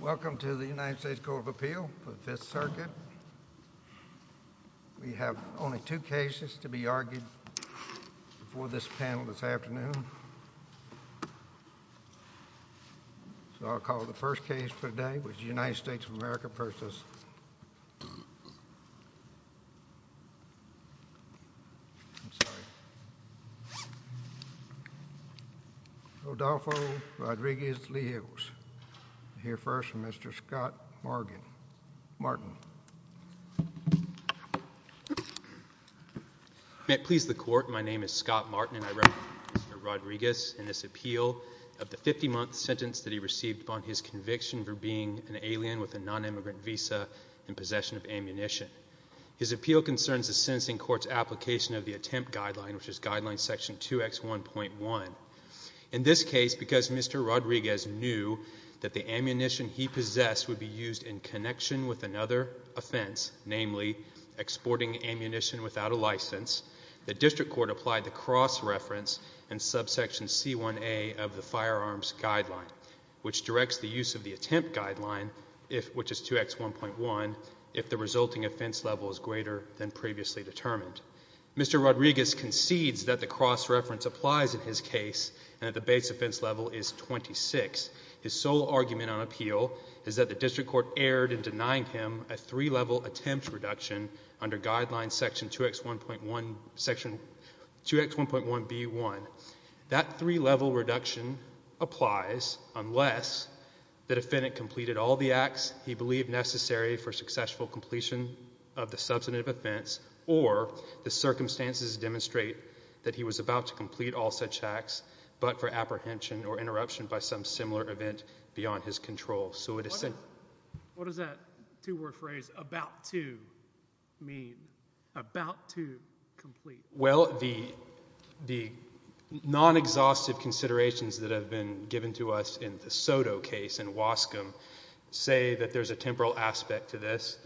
Welcome to the United States Court of Appeal for the Fifth Circuit. We have only two cases to be argued before this panel this afternoon. So I'll call the first case for today, which is the United States of America v. Rodolfo Rodriguez-Leos. I'll hear first from Mr. Scott Martin. May it please the Court, my name is Scott Martin and I represent Mr. Rodriguez in this appeal of the 50-month sentence that he received upon his conviction for being an alien with a non-immigrant visa in possession of ammunition. His appeal concerns the sentencing court's application of the attempt guideline, which is guideline section 2X1.1. In this case, because Mr. Rodriguez knew that the ammunition he possessed would be used in connection with another offense, namely exporting ammunition without a license, the district court applied the cross-reference in subsection C1A of the firearms guideline, which directs the use of the attempt guideline, which is 2X1.1, if the resulting offense level is greater than previously determined. Mr. Rodriguez concedes that the cross-reference applies in his case and that the base offense level is 26. His sole argument on appeal is that the district court erred in denying him a three-level attempt reduction under guideline section 2X1.1B1. That three-level reduction applies unless the defendant completed all the acts he believed necessary for successful completion of the substantive offense or the circumstances demonstrate that he was about to complete all such acts but for apprehension or interruption by some similar event beyond his control. What does that two-word phrase, about to, mean? About to complete? Well, the non-exhaustive considerations that have been given to us in the Soto case and Wascom say that there's a temporal aspect to this.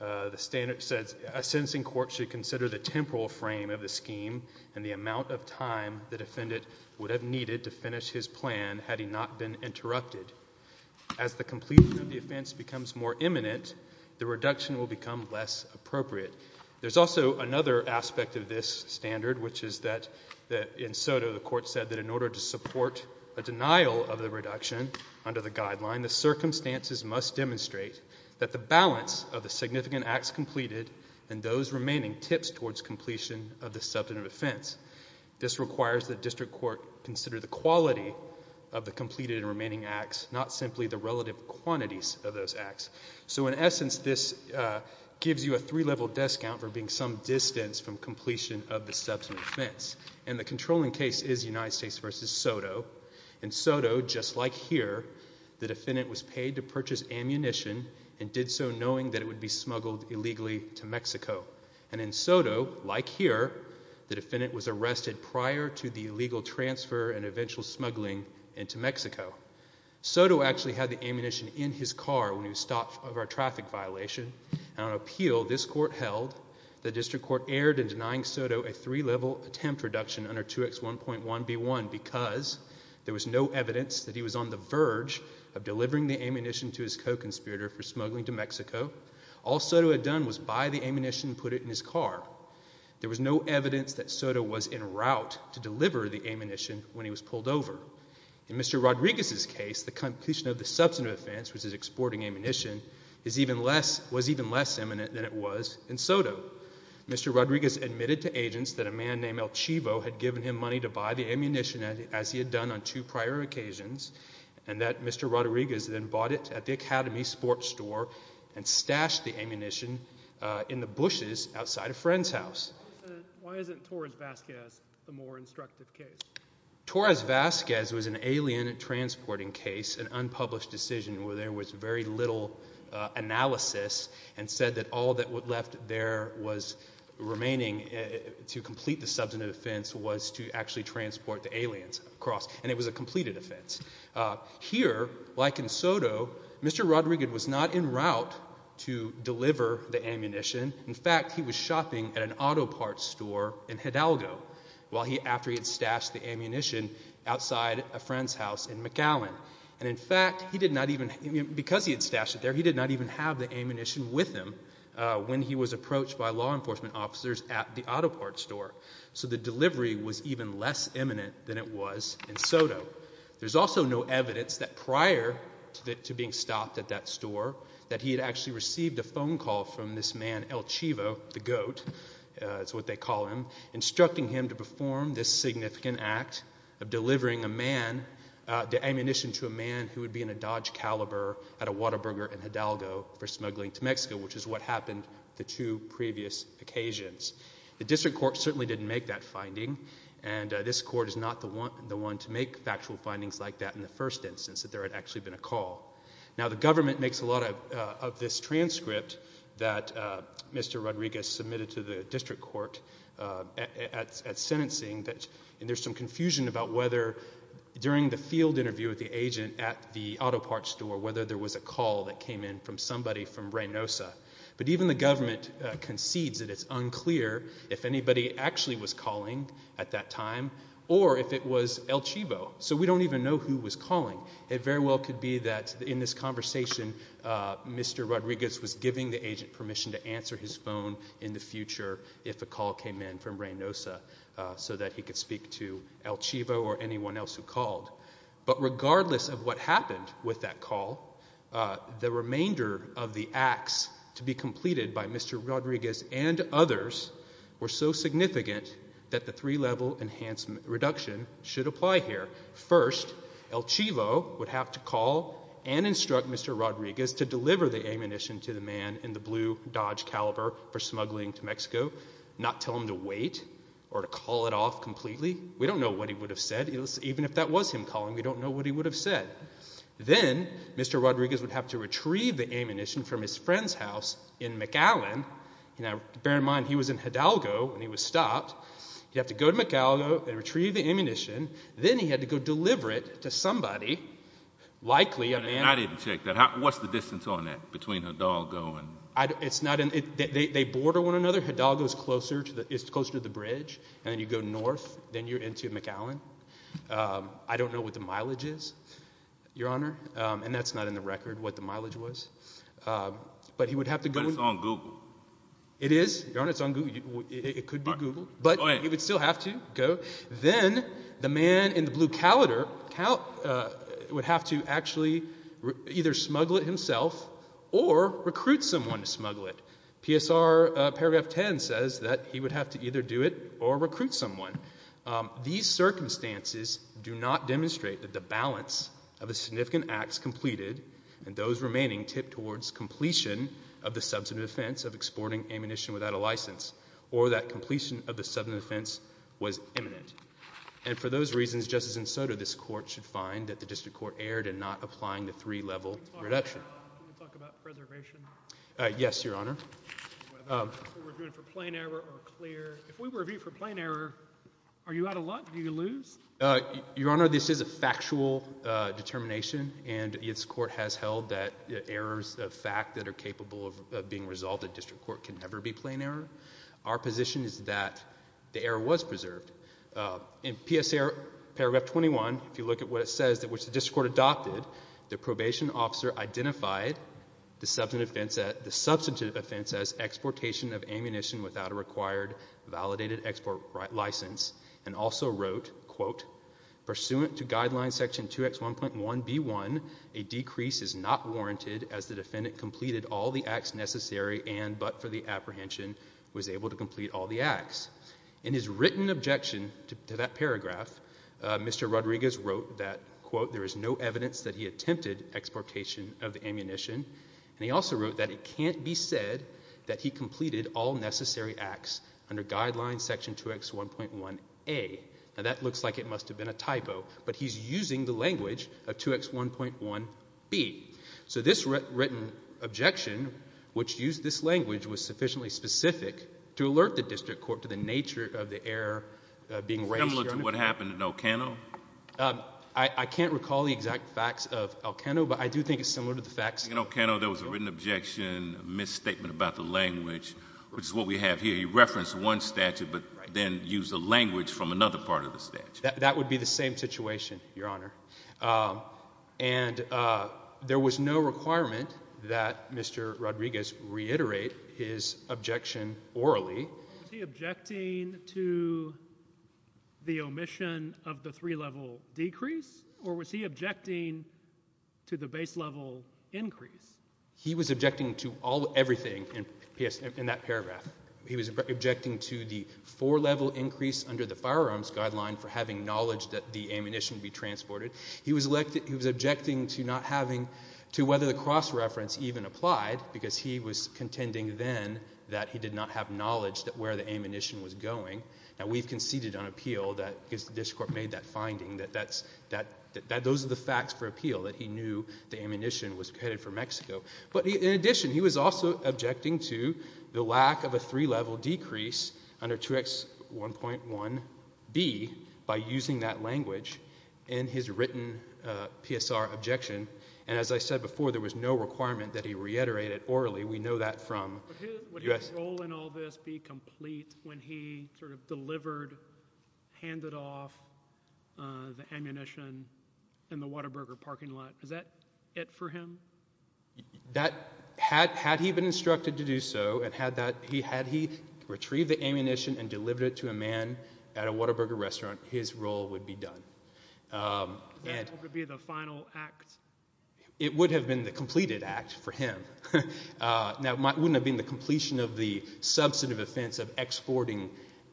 A sentencing court should consider the temporal frame of the scheme and the amount of time the defendant would have needed to finish his plan had he not been interrupted. As the completion of the offense becomes more imminent, the reduction will become less appropriate. There's also another aspect of this standard, which is that in Soto the court said that in order to support a denial of the reduction under the guideline, the circumstances must demonstrate that the balance of the significant acts completed and those remaining tips towards completion of the substantive offense. This requires that district court consider the quality of the completed and remaining acts, not simply the relative quantities of those acts. So in essence, this gives you a three-level discount for being some distance from completion of the substantive offense. And the controlling case is United States v. Soto. In Soto, just like here, the defendant was paid to purchase ammunition and did so knowing that it would be smuggled illegally to Mexico. And in Soto, like here, the defendant was arrested prior to the illegal transfer and eventual smuggling into Mexico. Soto actually had the ammunition in his car when he was stopped over a traffic violation. And on appeal, this court held the district court erred in denying Soto a three-level attempt reduction under 2X1.1B1 because there was no evidence that he was on the verge of delivering the ammunition to his co-conspirator for smuggling to Mexico. All Soto had done was buy the ammunition and put it in his car. There was no evidence that Soto was en route to deliver the ammunition when he was pulled over. In Mr. Rodriguez's case, the completion of the substantive offense, which is exporting ammunition, was even less imminent than it was in Soto. Mr. Rodriguez admitted to agents that a man named El Chivo had given him money to buy the ammunition, as he had done on two prior occasions, and that Mr. Rodriguez then bought it at the Academy Sports Store and stashed the ammunition in the bushes outside a friend's house. Why isn't Torres-Vazquez the more instructive case? Torres-Vazquez was an alien transporting case, an unpublished decision where there was very little analysis, and said that all that was left there was remaining to complete the substantive offense was to actually transport the aliens across, and it was a completed offense. Here, like in Soto, Mr. Rodriguez was not en route to deliver the ammunition. In fact, he was shopping at an auto parts store in Hidalgo after he had stashed the ammunition outside a friend's house in McAllen. And in fact, because he had stashed it there, he did not even have the ammunition with him when he was approached by law enforcement officers at the auto parts store. So the delivery was even less imminent than it was in Soto. There's also no evidence that prior to being stopped at that store that he had actually received a phone call from this man, El Chivo, the goat, that's what they call him, instructing him to perform this significant act of delivering a man, the ammunition to a man who would be in a Dodge Caliber at a Whataburger in Hidalgo for smuggling to Mexico, which is what happened the two previous occasions. The district court certainly didn't make that finding, and this court is not the one to make factual findings like that in the first instance, that there had actually been a call. Now, the government makes a lot of this transcript that Mr. Rodriguez submitted to the district court at sentencing, and there's some confusion about whether during the field interview with the agent at the auto parts store, whether there was a call that came in from somebody from Reynosa. But even the government concedes that it's unclear if anybody actually was calling at that time, or if it was El Chivo. So we don't even know who was calling. It very well could be that in this conversation, Mr. Rodriguez was giving the agent permission to answer his phone in the future if a call came in from Reynosa so that he could speak to El Chivo or anyone else who called. But regardless of what happened with that call, the remainder of the acts to be completed by Mr. Rodriguez and others were so significant that the three-level enhancement reduction should apply here. First, El Chivo would have to call and instruct Mr. Rodriguez to deliver the ammunition to the man in the blue Dodge Caliber for smuggling to Mexico, not tell him to wait or to call it off completely. We don't know what he would have said. Even if that was him calling, we don't know what he would have said. Then, Mr. Rodriguez would have to retrieve the ammunition from his friend's house in McAllen. Now, bear in mind, he was in Hidalgo when he was stopped. He'd have to go to McAllen and retrieve the ammunition. Then he had to go deliver it to somebody, likely a man. I didn't check that. What's the distance on that between Hidalgo and… They border one another. Hidalgo is closer to the bridge. And then you go north. Then you're into McAllen. I don't know what the mileage is, Your Honor. And that's not in the record, what the mileage was. But he would have to go… But it's on Google. It is, Your Honor. It's on Google. It could be Google. But he would still have to go. Then the man in the blue cowlitter would have to actually either smuggle it himself or recruit someone to smuggle it. PSR paragraph 10 says that he would have to either do it or recruit someone. These circumstances do not demonstrate that the balance of the significant acts completed and those remaining tipped towards completion of the substantive offense of exporting ammunition without a license or that completion of the substantive offense was imminent. And for those reasons, Justice Ensoto, this court should find that the district court erred in not applying the three-level reduction. Can we talk about preservation? Yes, Your Honor. Whether we're doing it for plain error or clear. If we were doing it for plain error, are you out of luck? Do you lose? Your Honor, this is a factual determination. And this court has held that errors of fact that are capable of being resolved at district court can never be plain error. Our position is that the error was preserved. In PSR paragraph 21, if you look at what it says, which the district court adopted, the probation officer identified the substantive offense as exportation of ammunition without a required validated export license and also wrote, quote, pursuant to guideline section 2X1.1B1, a decrease is not warranted as the defendant completed all the acts necessary and but for the apprehension was able to complete all the acts. In his written objection to that paragraph, Mr. Rodriguez wrote that, quote, there is no evidence that he attempted exportation of ammunition. And he also wrote that it can't be said that he completed all necessary acts under guideline section 2X1.1A. Now that looks like it must have been a typo, but he's using the language of 2X1.1B. So this written objection, which used this language, was sufficiently specific to alert the district court to the nature of the error being raised here. Similar to what happened in El Cano? I can't recall the exact facts of El Cano, but I do think it's similar to the facts in El Cano. In El Cano, there was a written objection, a misstatement about the language, which is what we have here. He referenced one statute but then used the language from another part of the statute. That would be the same situation, Your Honor. And there was no requirement that Mr. Rodriguez reiterate his objection orally. Was he objecting to the omission of the three-level decrease? Or was he objecting to the base-level increase? He was objecting to everything in that paragraph. He was objecting to the four-level increase under the firearms guideline for having knowledge that the ammunition be transported. He was objecting to whether the cross-reference even applied because he was contending then that he did not have knowledge that where the ammunition was going. And we've conceded on appeal that, because the district court made that finding, that those are the facts for appeal, that he knew the ammunition was headed for Mexico. But in addition, he was also objecting to the lack of a three-level decrease under 2X1.1B by using that language in his written PSR objection. And as I said before, there was no requirement to reiterate it orally. We know that from U.S. Would his role in all this be complete when he delivered, handed off the ammunition in the Whataburger parking lot? Is that it for him? Had he been instructed to do so, and had he retrieved the ammunition and delivered it to a man at a Whataburger restaurant, his role would be done. That would be the final act? It would have been the completed act for him. Now, it wouldn't have been the completion of the substantive offense of exporting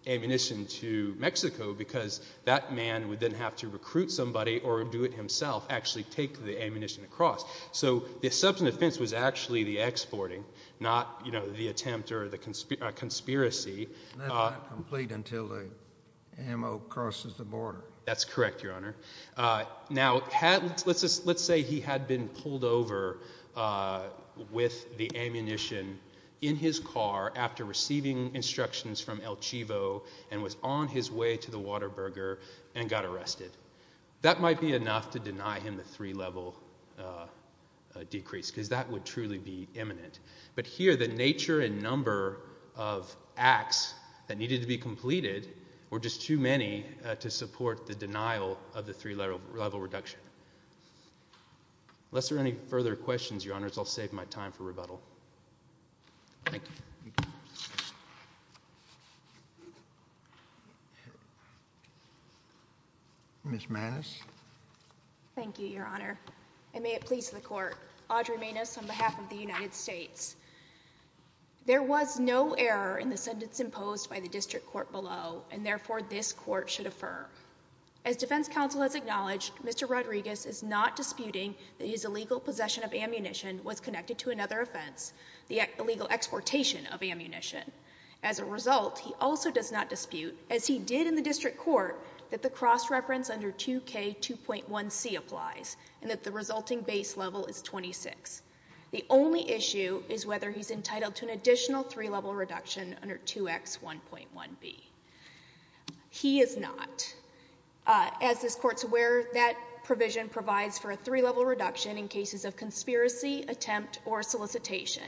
ammunition to Mexico because that man would then have to recruit somebody or do it himself, actually take the ammunition across. So the substantive offense was actually the exporting, not the attempt or the conspiracy. And that's not complete until the ammo crosses the border. That's correct, Your Honor. Now, let's say he had been pulled over with the ammunition in his car after receiving instructions from El Chivo and was on his way to the Whataburger and got arrested. That might be enough to deny him the three-level decrease because that would truly be imminent. But here, the nature and number of acts that needed to be completed were just too many to support the denial of the three-level reduction. Unless there are any further questions, Your Honor, I'll save my time for rebuttal. Thank you. Ms. Maness. Thank you, Your Honor. And may it please the Court, Audrey Maness on behalf of the United States. There was no error in the sentence imposed by the district court below, and therefore this court should affirm. As defense counsel has acknowledged, Mr. Rodriguez is not disputing that his illegal possession of ammunition was connected to another offense, the illegal exportation of ammunition. As a result, he also does not dispute, as he did in the district court, that the cross-reference under 2K2.1C applies and that the resulting base level is 26. The only issue is whether he's entitled to an additional three-level reduction under 2X1.1B. He is not. As this Court's aware, that provision provides for a three-level reduction in cases of conspiracy, attempt, or solicitation.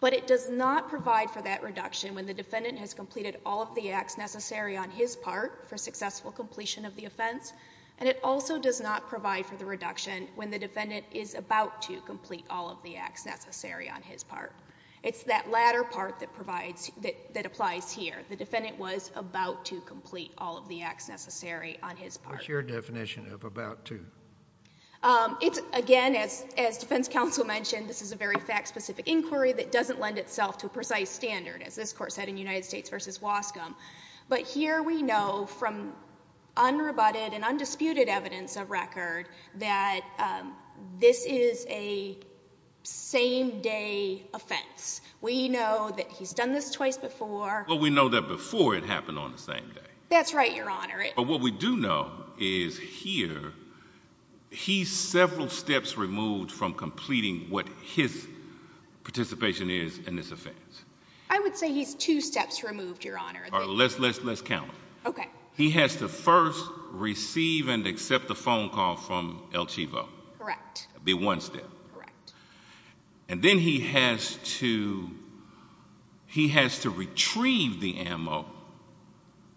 But it does not provide for that reduction when the defendant has completed all of the acts necessary on his part for successful completion of the offense, and it also does not provide for the reduction when the defendant is about to complete all of the acts necessary on his part. It's that latter part that provides, that applies here. The defendant was about to complete all of the acts necessary on his part. What's your definition of about to? It's, again, as defense counsel mentioned, this is a very fact-specific inquiry that doesn't lend itself to a precise standard, as this Court said in United States v. Wascom. But here we know from unrebutted and undisputed evidence of record that this is a same-day offense. We know that he's done this twice before. Well, we know that before it happened on the same day. That's right, Your Honor. But what we do know is here he's several steps removed from completing what his participation is in this offense. I would say he's two steps removed, Your Honor. All right, let's count. Okay. He has to first receive and accept a phone call from El Chivo. Correct. That would be one step. Correct. And then he has to retrieve the ammo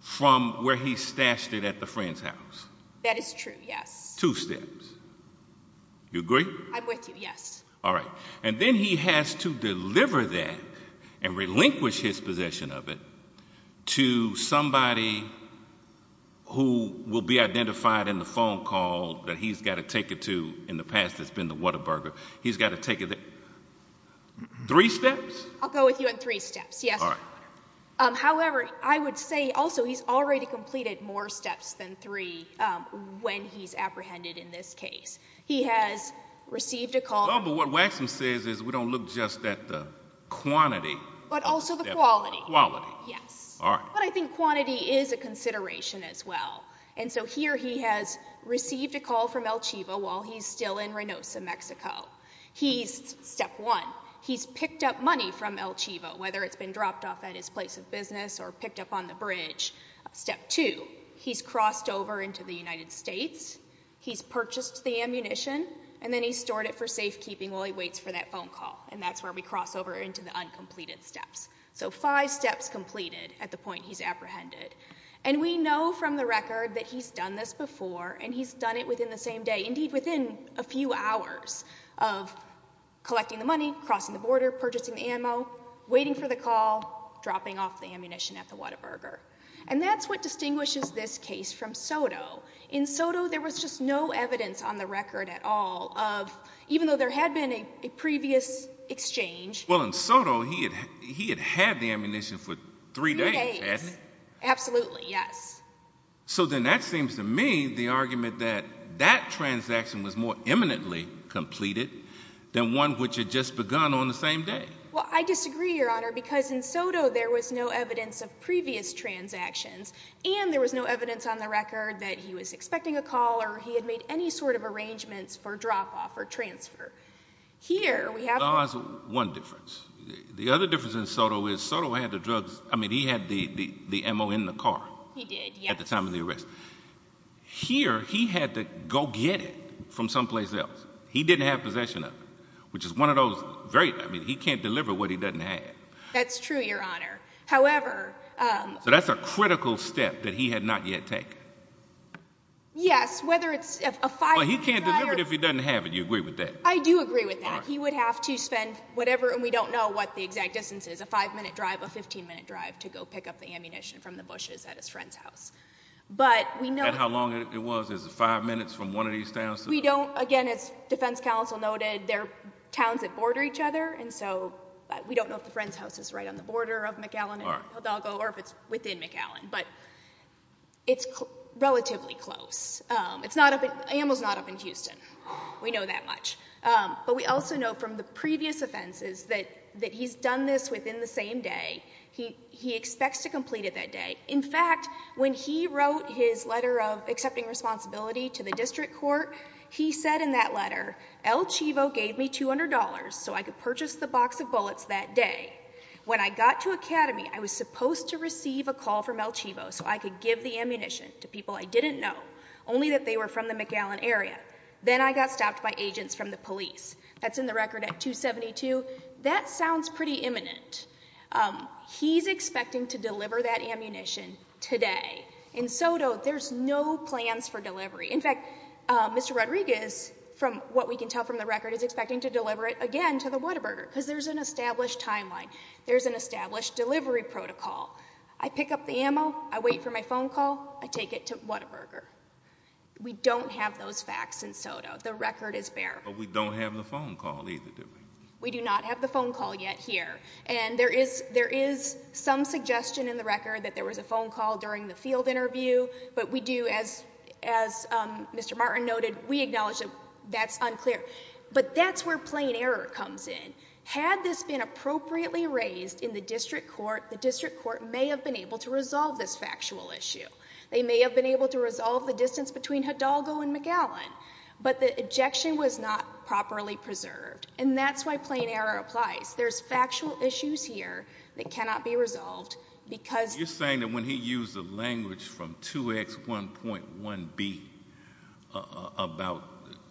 from where he stashed it at the friend's house. That is true, yes. Two steps. You agree? I'm with you, yes. All right. And then he has to deliver that and relinquish his possession of it to somebody who will be identified in the phone call that he's got to take it to in the past that's been the Whataburger. He's got to take it there. Three steps? I'll go with you on three steps, yes. All right. However, I would say also he's already completed more steps than three when he's apprehended in this case. He has received a call. No, but what Waxman says is we don't look just at the quantity. But also the quality. Quality. Yes. All right. But I think quantity is a consideration as well. He's still in Reynosa, Mexico. He's, step one, he's picked up money from El Chivo whether it's been dropped off at his place of business or picked up on the bridge. Step two, he's crossed over into the United States. He's purchased the ammunition and then he's stored it for safekeeping while he waits for that phone call. And that's where we cross over into the uncompleted steps. So five steps completed at the point he's apprehended. And we know from the record that he's done this before and he's done it within the same day. Indeed, within a few hours of collecting the money, crossing the border, purchasing the ammo, waiting for the call, dropping off the ammunition at the Whataburger. And that's what distinguishes this case from Soto. In Soto, there was just no evidence on the record at all of, even though there had been a previous exchange. Well, in Soto, he had had the ammunition for three days, hasn't he? Three days. Absolutely, yes. So then that seems to me the argument that that transaction was more imminently completed than one which had just begun on the same day. Well, I disagree, Your Honor, because in Soto there was no evidence of previous transactions and there was no evidence on the record that he was expecting a call or he had made any sort of arrangements for drop-off or transfer. Here, we have... There's one difference. The other difference in Soto is Soto had the drugs, which he did at the time of the arrest. Here, he had to go get it from someplace else. He didn't have possession of it, which is one of those very... I mean, he can't deliver what he doesn't have. That's true, Your Honor. However... So that's a critical step that he had not yet taken. Yes, whether it's a five-minute drive... Well, he can't deliver it if he doesn't have it. You agree with that? I do agree with that. He would have to spend whatever, and we don't know what the exact distance is, a five-minute drive, a 15-minute drive, to go pick up the ammunition from the bushes at his friend's house. But we know... And how long it was. Is it five minutes from one of these towns? We don't... Again, as Defense Counsel noted, they're towns that border each other, and so we don't know if the friend's house is right on the border of McAllen and Hidalgo or if it's within McAllen. But it's relatively close. It's not up in... Amel's not up in Houston. We know that much. But we also know from the previous offenses that he's done this within the same day. He expects to complete it that day. In fact, when he wrote his letter of accepting responsibility to the district court, he said in that letter, El Chivo gave me $200 so I could purchase the box of bullets that day. When I got to Academy, I was supposed to receive a call from El Chivo so I could give the ammunition to people I didn't know, only that they were from the McAllen area. Then I got stopped by agents from the police. That's in the record at 272. That sounds pretty imminent. He's expecting to deliver that ammunition today. In Soto, there's no plans for delivery. In fact, Mr. Rodriguez, from what we can tell from the record, is expecting to deliver it again to the Whataburger because there's an established timeline. There's an established delivery protocol. I pick up the ammo, I take it to Whataburger. We don't have those facts in Soto. But we don't have the phone call either, do we? We do not have the phone call yet here. And there is some suggestion in the record that there was a phone call during the field interview. But we do, as Mr. Martin noted, we acknowledge that that's unclear. But that's where plain error comes in. Had this been appropriately raised in the district court, the district court may have been able to resolve this factual issue. They may have been able to resolve the distance between Hidalgo and McAllen. But the objection was not properly preserved. And that's why plain error applies. There's factual issues here that cannot be resolved because... You're saying that when he used the language from 2X1.1B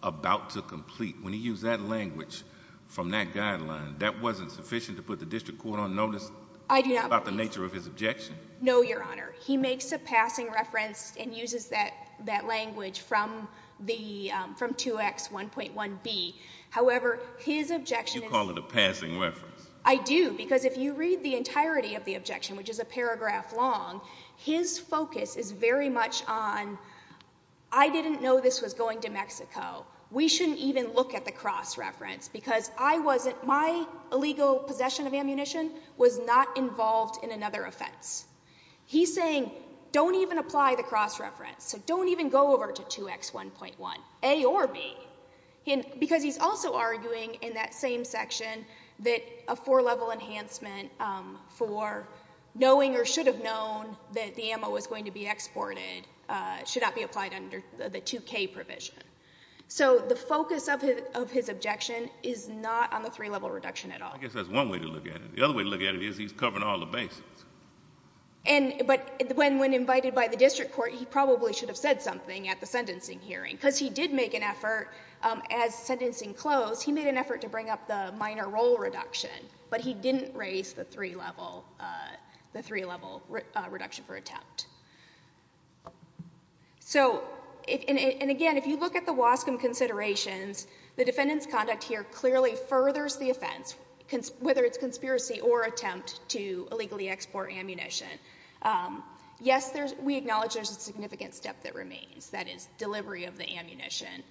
about to complete, when he used that language from that guideline, that wasn't sufficient to put the district court on notice about the nature of his objection? No, Your Honor. He makes a passing reference and uses that language from 2X1.1B. However, his objection... You call it a passing reference. I do, because if you read the entirety of the objection, which is a paragraph long, his focus is very much on, I didn't know this was going to Mexico. We shouldn't even look at the cross-reference because I wasn't... My illegal possession of ammunition was not involved in another offense. He's saying, don't even apply the cross-reference. So don't even go over to 2X1.1. A or B. Because he's also arguing in that same section that a four-level enhancement for knowing or should have known that the ammo was going to be exported should not be applied under the 2K provision. So the focus of his objection is not on the three-level reduction at all. I guess that's one way to look at it. The other way to look at it is he's covering all the bases. But when invited by the district court, he probably should have said something at the sentencing hearing. Because he did make an effort, as sentencing closed, he made an effort to bring up the minor role reduction. But he didn't raise the three-level, the three-level reduction for attempt. So, and again, if you look at the Wascom considerations, the defendant's conduct here clearly furthers the offense, whether it's conspiracy or attempt to illegally export ammunition. Yes, we acknowledge there's a significant step that remains. That is, delivery of the ammunition.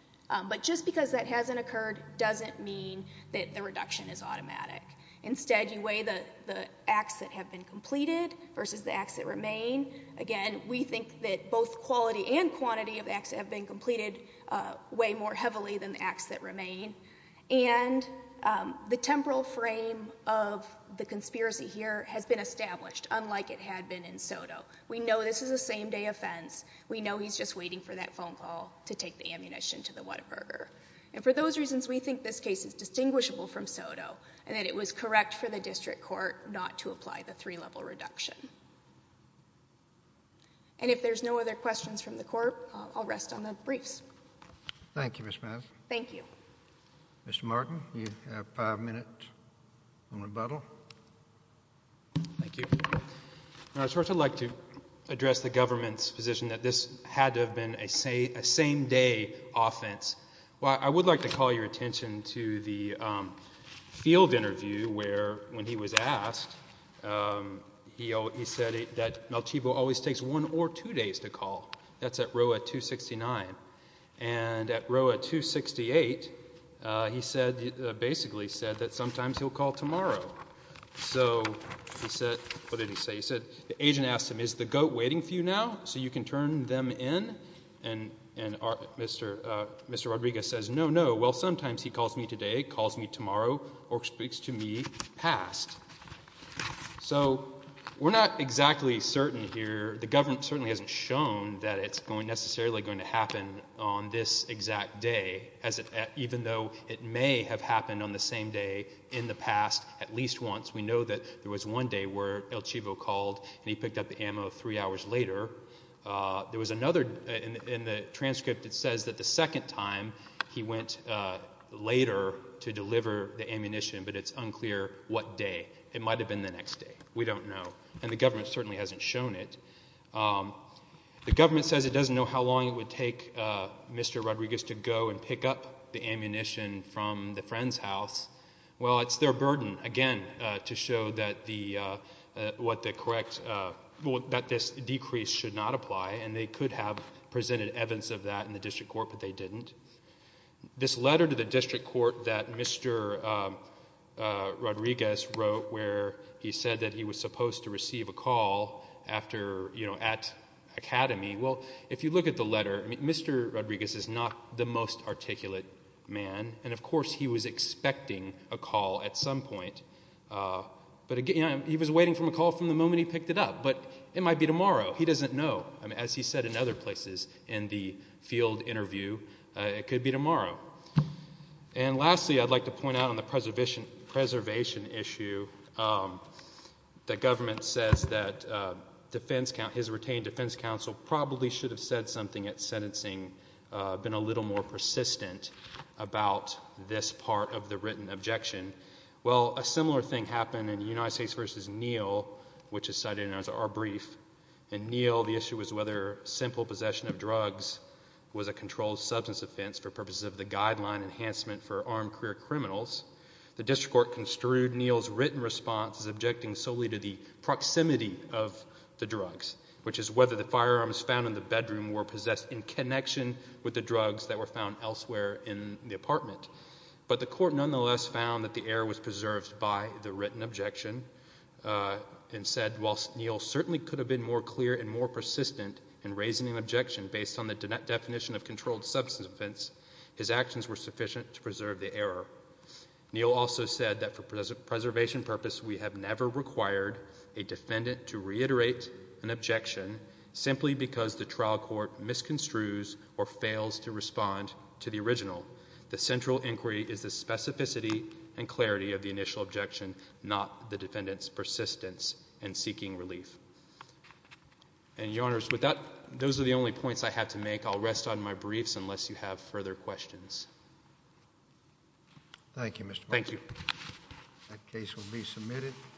But just because that hasn't occurred doesn't mean that the reduction is automatic. Instead, you weigh the acts that have been completed versus the acts that remain. Again, we think that both quality and quantity of acts that have been completed weigh more heavily than the acts that remain. And the temporal frame of the conspiracy here has been established, unlike it had been in Soto. We know this is a same-day offense. We know he's just waiting for that phone call to take the ammunition to the Whataburger. And for those reasons, we think this case is distinguishable from Soto and that it was correct for the district court not to apply the three-level reduction. And if there's no other questions from the court, I'll rest on the briefs. Thank you, Ms. Mavis. Thank you. Mr. Martin, you have five minutes on rebuttal. Thank you. I'd first like to address the government's position that this had to have been a same-day offense. Well, I would like to call your attention to the field interview where, when he was asked, he said that Malchibo always takes one or two days to call. That's at row 269. And at row 268, he basically said that sometimes he'll call tomorrow. So he said—what did he say? He said the agent asked him, is the GOAT waiting for you now so you can turn them in? And Mr. Rodriguez says, no, no. Well, sometimes he calls me today, calls me tomorrow, or speaks to me past. So we're not exactly certain here. The government certainly hasn't shown that it's necessarily going to happen on this exact day, even though it may have happened on the same day in the past at least once. We know that there was one day where El Chivo called three hours later. There was another—in the transcript, it says that the second time, he went later to deliver the ammunition, but it's unclear what day. It might have been the next day. We don't know. And the government certainly hasn't shown it. The government says it doesn't know how long it would take Mr. Rodriguez to go and pick up the ammunition from the friend's house. Well, it's their burden, again, to show that the—what the correct— that this decrease should not apply, and they could have presented evidence of that in the district court, but they didn't. This letter to the district court that Mr. Rodriguez wrote where he said that he was supposed to receive a call after—you know, at Academy. Well, if you look at the letter, Mr. Rodriguez is not the most articulate man, and of course he was expecting a call at some point. But again, he was waiting for a call from the moment he picked it up, but it might be tomorrow. He doesn't know. As he said in other places in the field interview, it could be tomorrow. And lastly, I'd like to point out on the preservation issue that government says that defense— his retained defense counsel probably should have said something at sentencing, been a little more persistent about this part of the written objection. Well, a similar thing happened in United States v. Neal, which is cited in our brief. In Neal, the issue was whether simple possession of drugs was a controlled substance offense for purposes of the guideline enhancement for armed career criminals. The district court construed Neal's written response as objecting solely to the proximity of the drugs, which is whether the firearms found in the bedroom were possessed in connection with the drugs that were found elsewhere in the apartment. But the court nonetheless found that the error was preserved by the written objection and said, while Neal certainly could have been more clear and more persistent in raising an objection based on the definition of controlled substance offense, his actions were sufficient to preserve the error. Neal also said that for preservation purposes, we have never required a defendant to reiterate an objection simply because the trial court misconstrues or fails to respond to the original. The central inquiry is the specificity and clarity of the initial objection, not the defendant's persistence in seeking relief. And, Your Honors, with that, those are the only points I have to make. I'll rest on my briefs unless you have further questions. Thank you, Mr. Bartlett. Thank you.